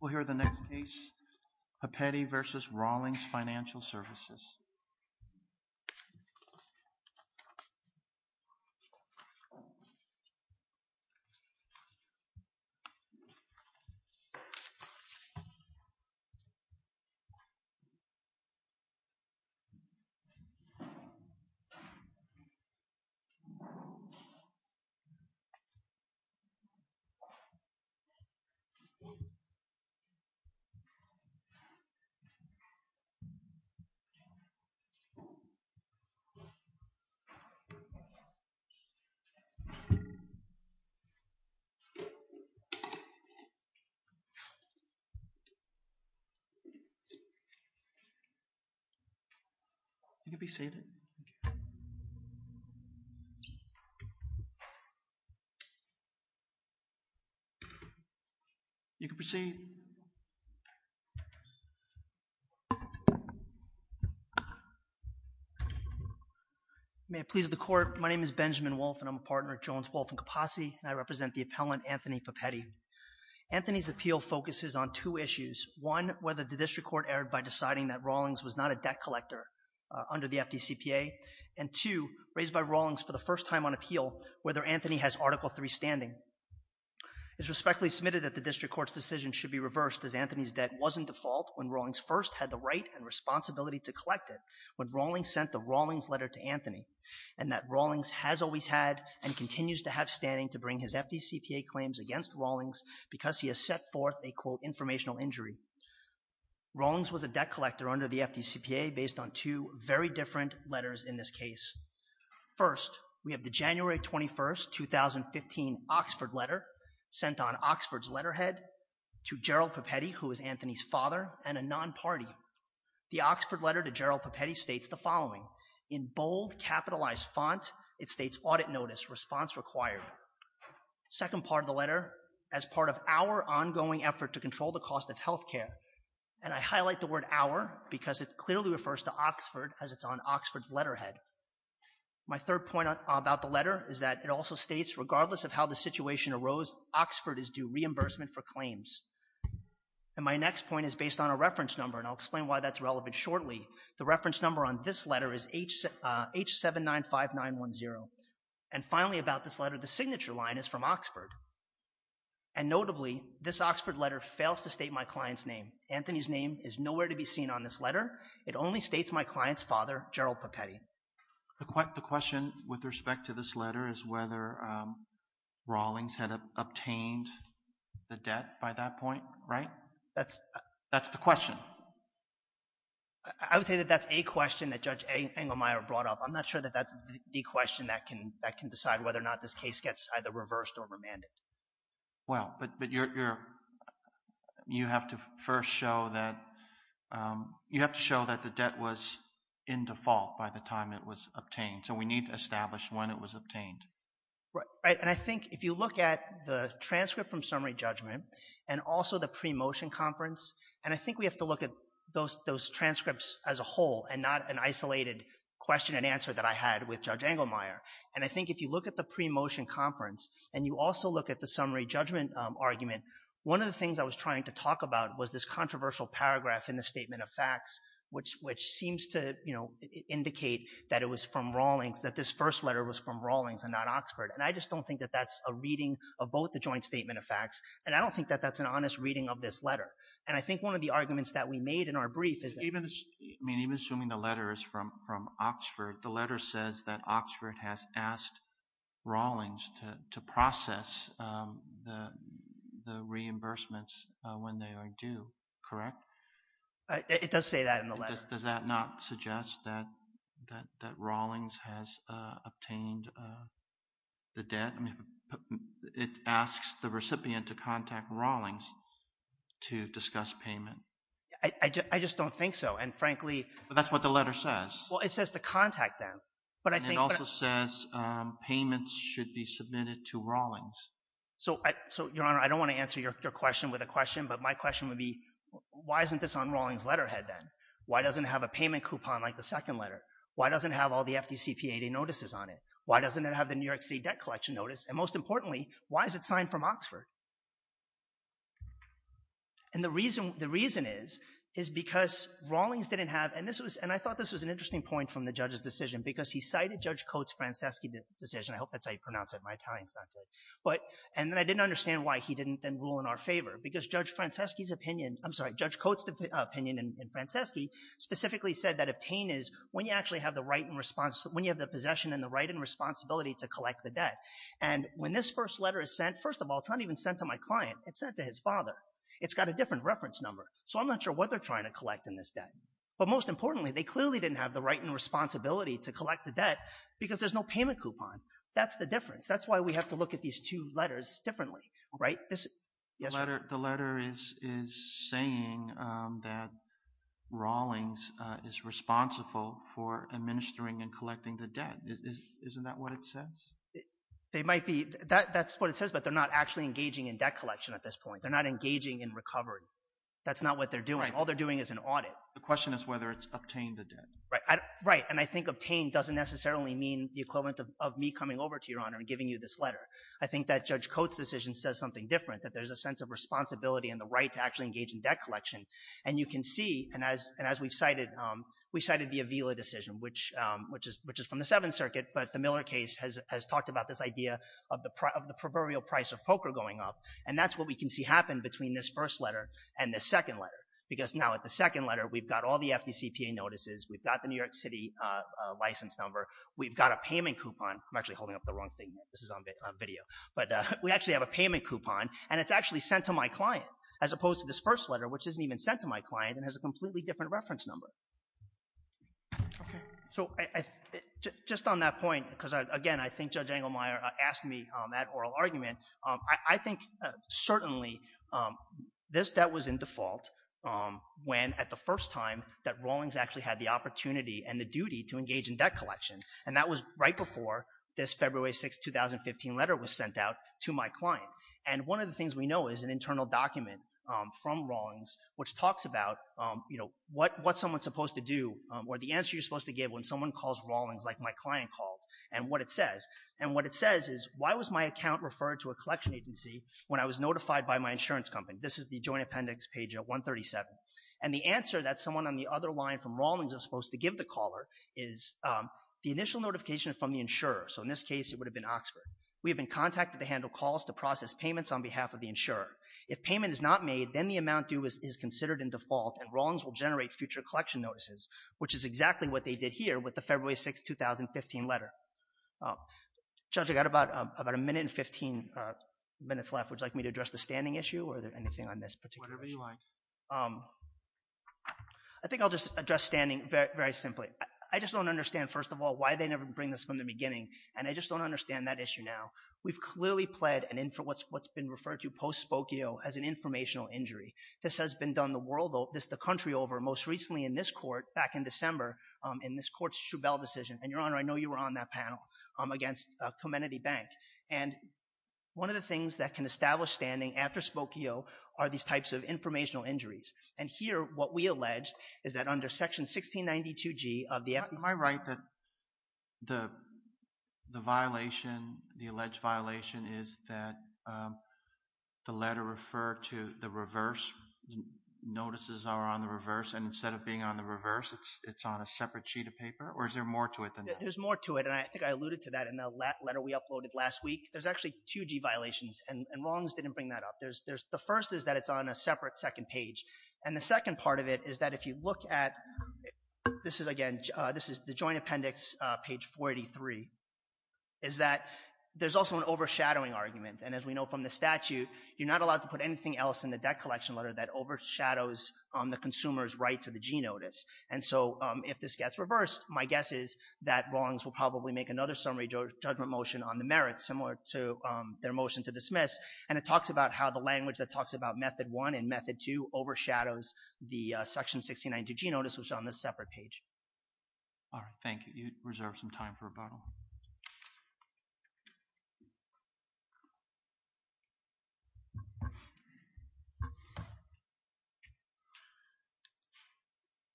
We'll hear the next case, Pepetti v. Rawlings Financial Service. OK. You can proceed. May it please the Court, my name is Benjamin Wolfe and I'm a partner at Jones, Wolfe & Capasi and I represent the appellant, Anthony Pepetti. Anthony's appeal focuses on two issues. One, whether the district court erred by deciding that Rawlings was not a debt collector under the FDCPA and two, raised by Rawlings for the first time on appeal, whether Anthony has Article III standing. It's respectfully submitted that the district court's decision should be reversed as Anthony's debt was in default when Rawlings first had the right and responsibility to collect it when Rawlings sent the Rawlings letter to Anthony and that Rawlings has always had and continues to have standing to bring his FDCPA claims against Rawlings because he has set forth a, quote, informational injury. Rawlings was a debt collector under the FDCPA based on two very different letters in this case. First, we have the January 21, 2015, Oxford letter sent on Oxford's letterhead to Gerald Pepetti, who is Anthony's father, and a non-party. The Oxford letter to Gerald Pepetti states the following. In bold, capitalized font, it states, Audit Notice, Response Required. Second part of the letter, as part of our ongoing effort to control the cost of healthcare, and I highlight the word our because it clearly refers to Oxford as it's on Oxford's letterhead. My third point about the letter is that it also states, regardless of how the situation arose, Oxford is due reimbursement for claims. And my next point is based on a reference number and I'll explain why that's relevant shortly. The reference number on this letter is H795910. And finally about this letter, the signature line is from Oxford. And notably, this Oxford letter fails to state my client's name. Anthony's name is nowhere to be seen on this letter. It only states my client's father, Gerald Pepetti. The question with respect to this letter is whether Rawlings had obtained the debt by that point, right? That's the question. I would say that that's a question that Judge Engelmeyer brought up. I'm not sure that that's the question that can decide whether or not this case gets either reversed or remanded. Well, but you have to first show that the debt was in default by the time it was obtained. So we need to establish when it was obtained. Right. And I think if you look at the transcript from summary judgment and also the pre-motion conference, and I think we have to look at those transcripts as a whole and not an isolated question and answer that I had with Judge Engelmeyer. And I think if you look at the pre-motion conference and you also look at the summary judgment argument, one of the things I was trying to talk about was this controversial paragraph in the statement of facts, which seems to, you know, indicate that it was from Rawlings, that this first letter was from Rawlings and not Oxford. And I just don't think that that's a reading of both the joint statement of facts. And I don't think that that's an honest reading of this letter. And I think one of the arguments that we made in our brief is that— The letter says that Oxford has asked Rawlings to process the reimbursements when they are due. Correct? It does say that in the letter. Does that not suggest that Rawlings has obtained the debt? It asks the recipient to contact Rawlings to discuss payment. I just don't think so. And frankly— But that's what the letter says. Well, it says to contact them. But I think— And it also says payments should be submitted to Rawlings. So Your Honor, I don't want to answer your question with a question, but my question would be, why isn't this on Rawlings' letterhead then? Why doesn't it have a payment coupon like the second letter? Why doesn't it have all the FDCPA notices on it? Why doesn't it have the New York City debt collection notice? And most importantly, why is it signed from Oxford? And the reason is, is because Rawlings didn't have—and I thought this was an interesting point from the judge's decision, because he cited Judge Coates' Franceschi decision—I hope that's how you pronounce it, my Italian is not good—and then I didn't understand why he didn't then rule in our favor. Because Judge Franceschi's opinion—I'm sorry, Judge Coates' opinion in Franceschi specifically said that obtain is when you actually have the possession and the right and responsibility to collect the debt. And when this first letter is sent, first of all, it's not even sent to my client. It's sent to his father. It's got a different reference number. So I'm not sure what they're trying to collect in this debt. But most importantly, they clearly didn't have the right and responsibility to collect the debt because there's no payment coupon. That's the difference. That's why we have to look at these two letters differently, right? The letter is saying that Rawlings is responsible for administering and collecting the debt. Isn't that what it says? They might be. That's what it says, but they're not actually engaging in debt collection at this point. They're not engaging in recovery. That's not what they're doing. All they're doing is an audit. The question is whether it's obtained the debt. Right. And I think obtained doesn't necessarily mean the equivalent of me coming over to Your Honor and giving you this letter. I think that Judge Coates' decision says something different, that there's a sense of responsibility and the right to actually engage in debt collection. And you can see, and as we've cited, we cited the Avila decision, which is from the Seventh Circuit, but the Miller case has talked about this idea of the proverbial price of poker going up. And that's what we can see happen between this first letter and the second letter. Because now at the second letter, we've got all the FDCPA notices. We've got the New York City license number. We've got a payment coupon. I'm actually holding up the wrong thing. This is on video. But we actually have a payment coupon, and it's actually sent to my client, as opposed to this first letter, which isn't even sent to my client and has a completely different reference number. So just on that point, because again, I think Judge Engelmeyer asked me that oral argument, I think certainly this debt was in default when, at the first time, that Rawlings actually had the opportunity and the duty to engage in debt collection. And that was right before this February 6, 2015 letter was sent out to my client. And one of the things we know is an internal document from Rawlings which talks about what someone's supposed to do, or the answer you're supposed to give when someone calls Rawlings like my client called, and what it says. And what it says is, why was my account referred to a collection agency when I was notified by my insurance company? This is the joint appendix, page 137. And the answer that someone on the other line from Rawlings is supposed to give the caller is the initial notification is from the insurer. So in this case, it would have been Oxford. We have been contacted to handle calls to process payments on behalf of the insurer. If payment is not made, then the amount due is considered in default, and Rawlings will generate future collection notices, which is exactly what they did here with the February 6, 2015 letter. Judge, I've got about a minute and 15 minutes left. Would you like me to address the standing issue, or anything on this particular issue? Whatever you like. I think I'll just address standing very simply. I just don't understand, first of all, why they never bring this from the beginning. And I just don't understand that issue now. We've clearly pled what's been referred to post-spokio as an informational injury. This has been done the country over. Most recently in this court, back in December, in this court's Shubell decision, and Your Honor, I know you were on that panel, against Comenity Bank. And one of the things that can establish standing after spokio are these types of informational injuries. And here, what we allege is that under Section 1692G of the FDA— Am I right that the violation, the alleged violation, is that the letter referred to the reverse, notices are on the reverse, and instead of being on the reverse, it's on a separate sheet of paper? Or is there more to it than that? There's more to it, and I think I alluded to that in the letter we uploaded last week. There's actually two G violations, and Rawlings didn't bring that up. The first is that it's on a separate second page. And the second part of it is that if you look at—this is, again, this is the Joint Appendix, page 483—is that there's also an overshadowing argument. And as we know from the statute, you're not allowed to put anything else in the debt collection letter that overshadows the consumer's right to the G notice. And so if this gets reversed, my guess is that Rawlings will probably make another summary judgment motion on the merits, similar to their motion to dismiss. And it talks about how the language that talks about Method 1 and Method 2 overshadows the Section 1692G notice, which is on this separate page. All right. Thank you. I'm going to let you reserve some time for rebuttal.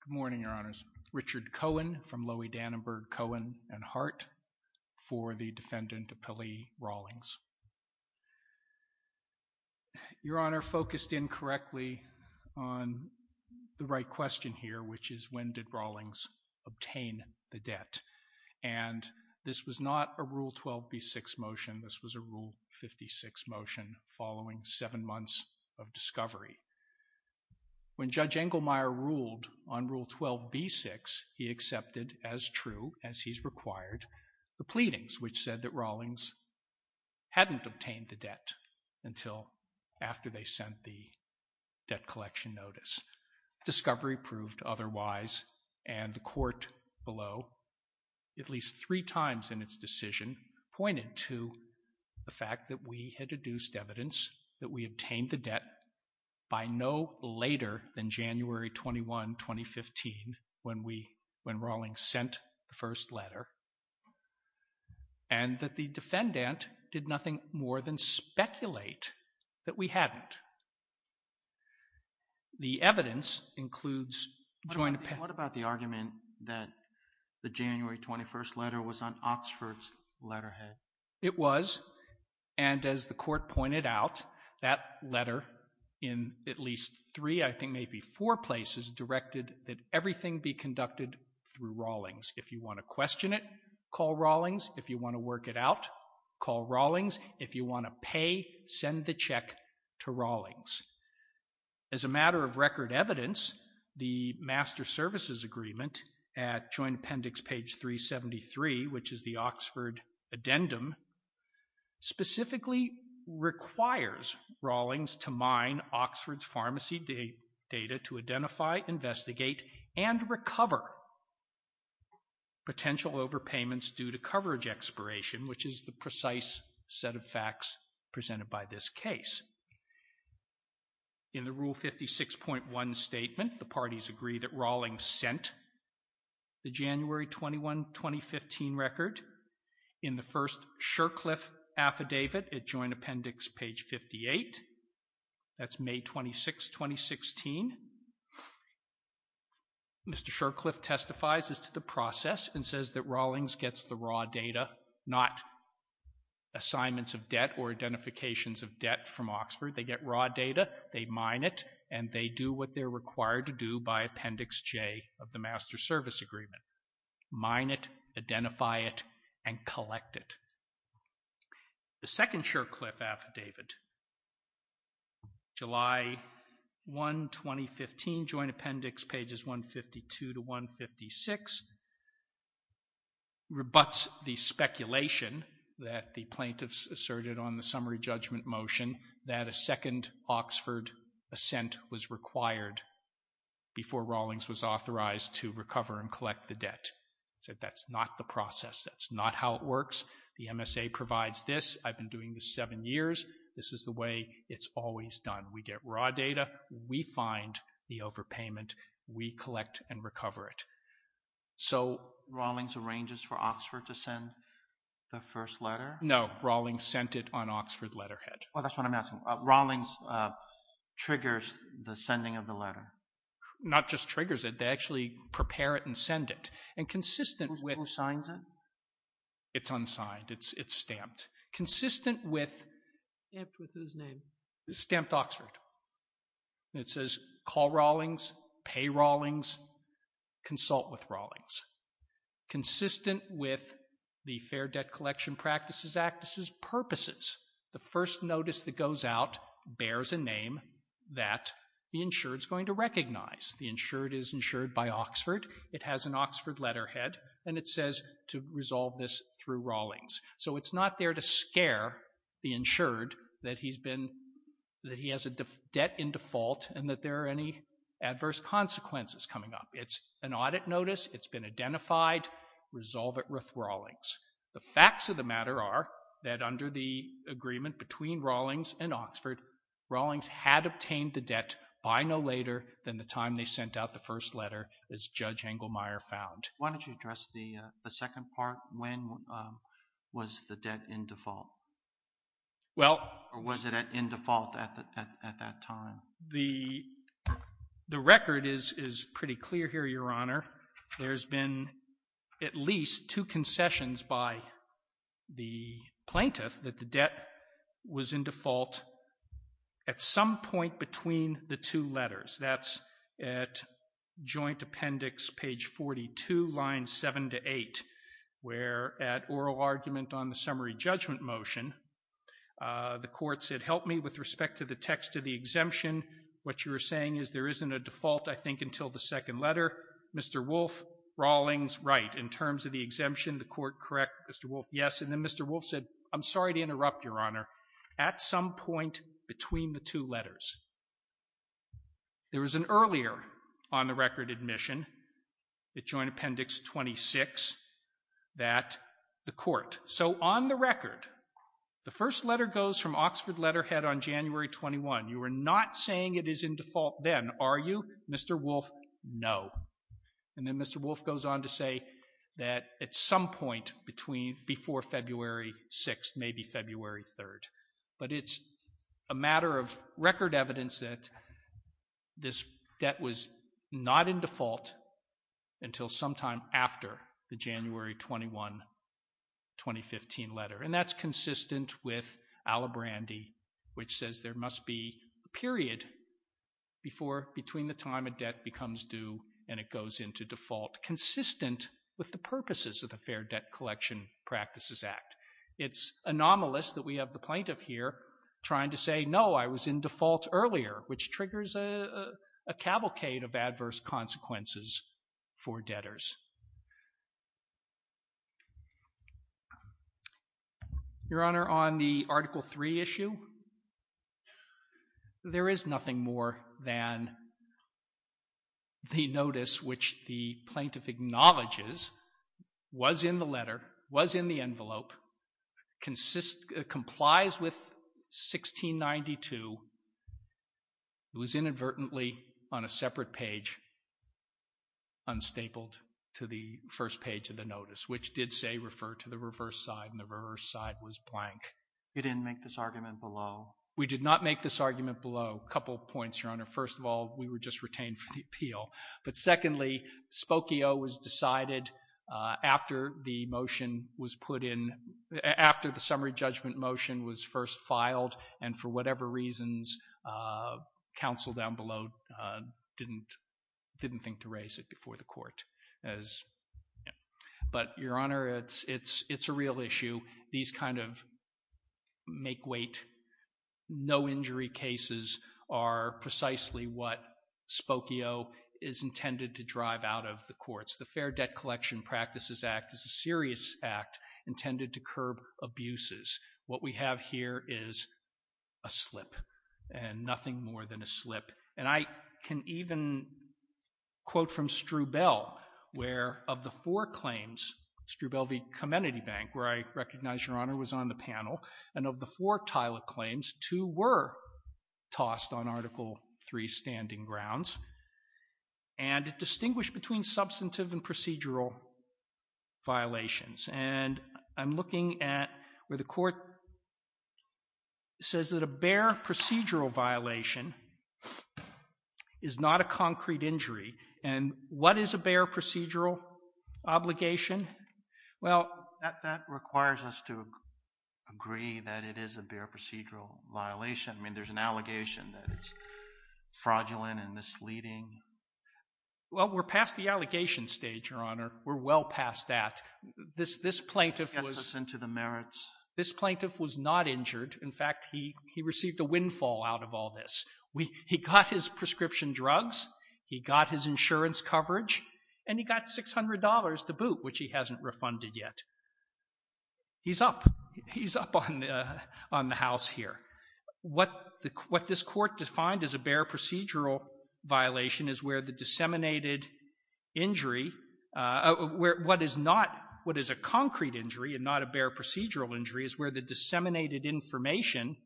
Good morning, Your Honors. Richard Cohen from Lowy, Dannenberg, Cohen & Hart for the defendant, Appellee Rawlings. Your Honor, focused incorrectly on the right question here, which is when did Rawlings obtain the debt? And this was not a Rule 12b-6 motion. This was a Rule 56 motion following seven months of discovery. When Judge Engelmeyer ruled on Rule 12b-6, he accepted as true as he's required the pleadings, which said that Rawlings hadn't obtained the debt until after they sent the debt collection notice. Discovery proved otherwise, and the court below, at least three times in its decision, pointed to the fact that we had deduced evidence that we obtained the debt by no later than January 21, 2015, when Rawlings sent the first letter, and that the defendant did nothing more than speculate that we hadn't. The evidence includes joint... What about the argument that the January 21st letter was on Oxford's letterhead? It was, and as the court pointed out, that letter, in at least three, I think maybe four places, directed that everything be conducted through Rawlings. If you want to question it, call Rawlings. If you want to work it out, call Rawlings. If you want to pay, send the check to Rawlings. As a matter of record evidence, the Master Services Agreement at Joint Appendix page 373, which is the Oxford addendum, specifically requires Rawlings to mine Oxford's pharmacy data to identify, investigate, and recover potential overpayments due to coverage expiration, which is the precise set of facts presented by this case. In the Rule 56.1 statement, the parties agree that Rawlings sent the January 21, 2015 record in the first Shurcliffe affidavit at Joint Appendix page 58. That's May 26, 2016. Mr. Shurcliffe testifies as to the process and says that Rawlings gets the raw data, not assignments of debt or identifications of debt from Oxford. They get raw data, they mine it, and they do what they're required to do by Appendix J of the Master Service Agreement, mine it, identify it, and collect it. The second Shurcliffe affidavit, July 1, 2015, Joint Appendix pages 152 to 156, rebuts the speculation that the plaintiffs asserted on the summary judgment motion that a second Oxford assent was required before Rawlings was authorized to recover and collect the debt. He said that's not the process, that's not how it works. The MSA provides this, I've been doing this seven years, this is the way it's always done. We get raw data, we find the overpayment, we collect and recover it. So Rawlings arranges for Oxford to send the first letter? No, Rawlings sent it on Oxford letterhead. Oh, that's what I'm asking. Rawlings triggers the sending of the letter? Not just triggers it, they actually prepare it and send it. And consistent with... Who signs it? It's unsigned, it's stamped. Consistent with... Stamped with whose name? Stamped Oxford. And it says, call Rawlings, pay Rawlings, consult with Rawlings. Consistent with the Fair Debt Collection Practices Act, this is purposes. The first notice that goes out bears a name that the insured is going to recognize. The insured is insured by Oxford. It has an Oxford letterhead and it says to resolve this through Rawlings. So it's not there to scare the insured that he has a debt in default and that there are any adverse consequences coming up. It's an audit notice, it's been identified, resolve it with Rawlings. The facts of the matter are that under the agreement between Rawlings and Oxford, Rawlings had obtained the debt by no later than the time they sent out the first letter, as Judge Engelmeyer found. Why don't you address the second part, when was the debt in default? Well... Or was it in default at that time? The record is pretty clear here, Your Honor. There's been at least two concessions by the plaintiff that the debt was in default at some point between the two letters. That's at Joint Appendix, page 42, lines 7 to 8, where at oral argument on the summary judgment motion, the court said, help me with respect to the text of the exemption. What you're saying is there isn't a default, I think, until the second letter. Mr. Wolfe, Rawlings, right, in terms of the exemption, the court correct Mr. Wolfe, yes. And then Mr. Wolfe said, I'm sorry to interrupt, Your Honor. At some point between the two letters. There was an earlier on-the-record admission at Joint Appendix 26 that the court... So on the record, the first letter goes from Oxford letterhead on January 21. You are not saying it is in default then, are you, Mr. Wolfe? No. And then Mr. Wolfe goes on to say that at some point between, before February 6th, maybe February 3rd. But it's a matter of record evidence that this debt was not in default until sometime after the January 21, 2015 letter. And that's consistent with Alibrandi, which says there must be a period before, between the time a debt becomes due and it goes into default, consistent with the purposes of the Fair Debt Collection Practices Act. It's anomalous that we have the plaintiff here trying to say, no, I was in default earlier, which triggers a cavalcade of adverse consequences for debtors. Your Honor, on the Article 3 issue, there is nothing more than the notice which the consist, complies with 1692, it was inadvertently on a separate page, unstapled to the first page of the notice, which did say refer to the reverse side and the reverse side was blank. You didn't make this argument below? We did not make this argument below. Couple points, Your Honor. First of all, we were just retained for the appeal. But secondly, Spokio was decided after the motion was put in, after the summary judgment motion was first filed and for whatever reasons, counsel down below didn't think to raise it before the court. But Your Honor, it's a real issue. These kind of make-weight, no-injury cases are precisely what Spokio is intended to drive out of the courts. The Fair Debt Collection Practices Act is a serious act intended to curb abuses. What we have here is a slip and nothing more than a slip. And I can even quote from Strubel, where of the four claims, Strubel v. Comenity Bank, where I recognize Your Honor was on the panel, and of the four TILA claims, two were tossed on Article III standing grounds and distinguished between substantive and procedural violations. And I'm looking at where the court says that a bare procedural violation is not a concrete injury. And what is a bare procedural obligation? Well, that requires us to agree that it is a bare procedural violation. I mean, there's an allegation that it's fraudulent and misleading. Well, we're past the allegation stage, Your Honor. We're well past that. This plaintiff was not injured. In fact, he received a windfall out of all this. He got his prescription drugs, he got his insurance coverage, and he got $600 to boot, which he hasn't refunded yet. He's up. He's up on the house here. What this court defined as a bare procedural violation is where the disseminated injury, what is not, what is a concrete injury and not a bare procedural injury is where the disseminated information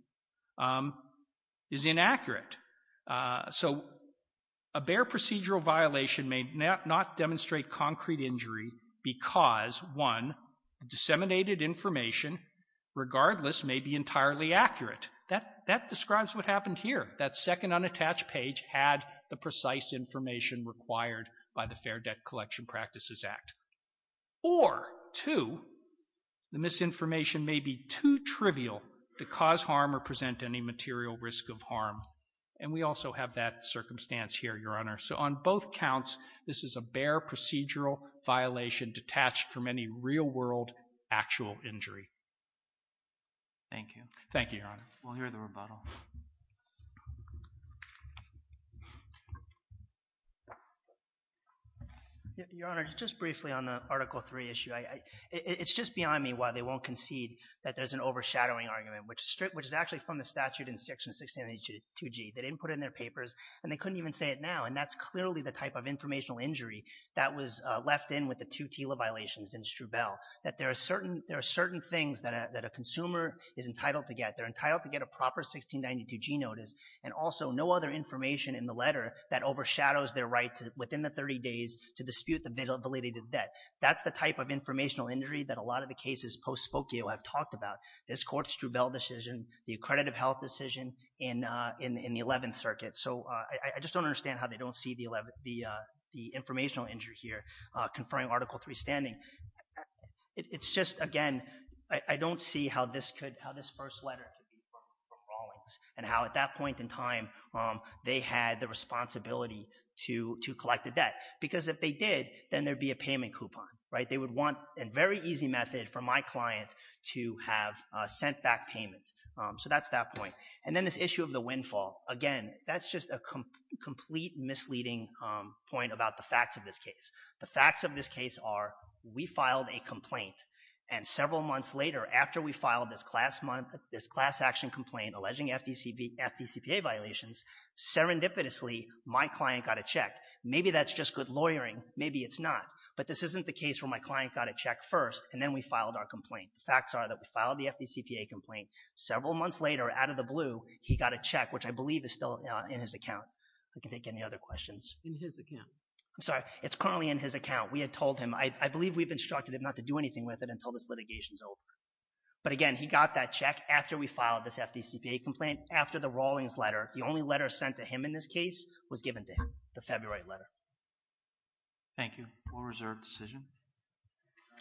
is inaccurate. So a bare procedural violation may not demonstrate concrete injury because, one, the disseminated information, regardless, may be entirely accurate. That describes what happened here. That second unattached page had the precise information required by the Fair Debt Collection Practices Act. Or two, the misinformation may be too trivial to cause harm or present any material risk of harm. And we also have that circumstance here, Your Honor. So on both counts, this is a bare procedural violation detached from any real-world actual injury. Thank you. Thank you, Your Honor. We'll hear the rebuttal. Your Honor, just briefly on the Article III issue, it's just behind me why they won't concede that there's an overshadowing argument, which is actually from the statute in Section 1692G. They didn't put it in their papers, and they couldn't even say it now, and that's clearly the type of informational injury that was left in with the two TILA violations in Strubelle, that there are certain things that a consumer is entitled to get. They're entitled to get a proper 1692G notice and also no other information in the letter that overshadows their right to, within the 30 days, to dispute the validity of the debt. That's the type of informational injury that a lot of the cases post-spokio have talked about. This Court's Strubelle decision, the Accredited Health decision in the Eleventh Circuit. So I just don't understand how they don't see the informational injury here conferring Article III standing. It's just, again, I don't see how this could, how this first letter could be from Rawlings and how at that point in time they had the responsibility to collect the debt. Because if they did, then there'd be a payment coupon, right? They would want a very easy method for my client to have a sent-back payment. So that's that point. And then this issue of the windfall. Again, that's just a complete misleading point about the facts of this case. The facts of this case are we filed a complaint and several months later, after we filed this class action complaint alleging FDCPA violations, serendipitously my client got a check. Maybe that's just good lawyering. Maybe it's not. But this isn't the case where my client got a check first and then we filed our complaint. The facts are that we filed the FDCPA complaint. Several months later, out of the blue, he got a check, which I believe is still in his account. I can take any other questions. In his account? I'm sorry. It's currently in his account. We had told him. I believe we've instructed him not to do anything with it until this litigation's over. But again, he got that check after we filed this FDCPA complaint, after the Rawlings letter. The only letter sent to him in this case was given to him, the February letter. Thank you. We'll reserve the decision.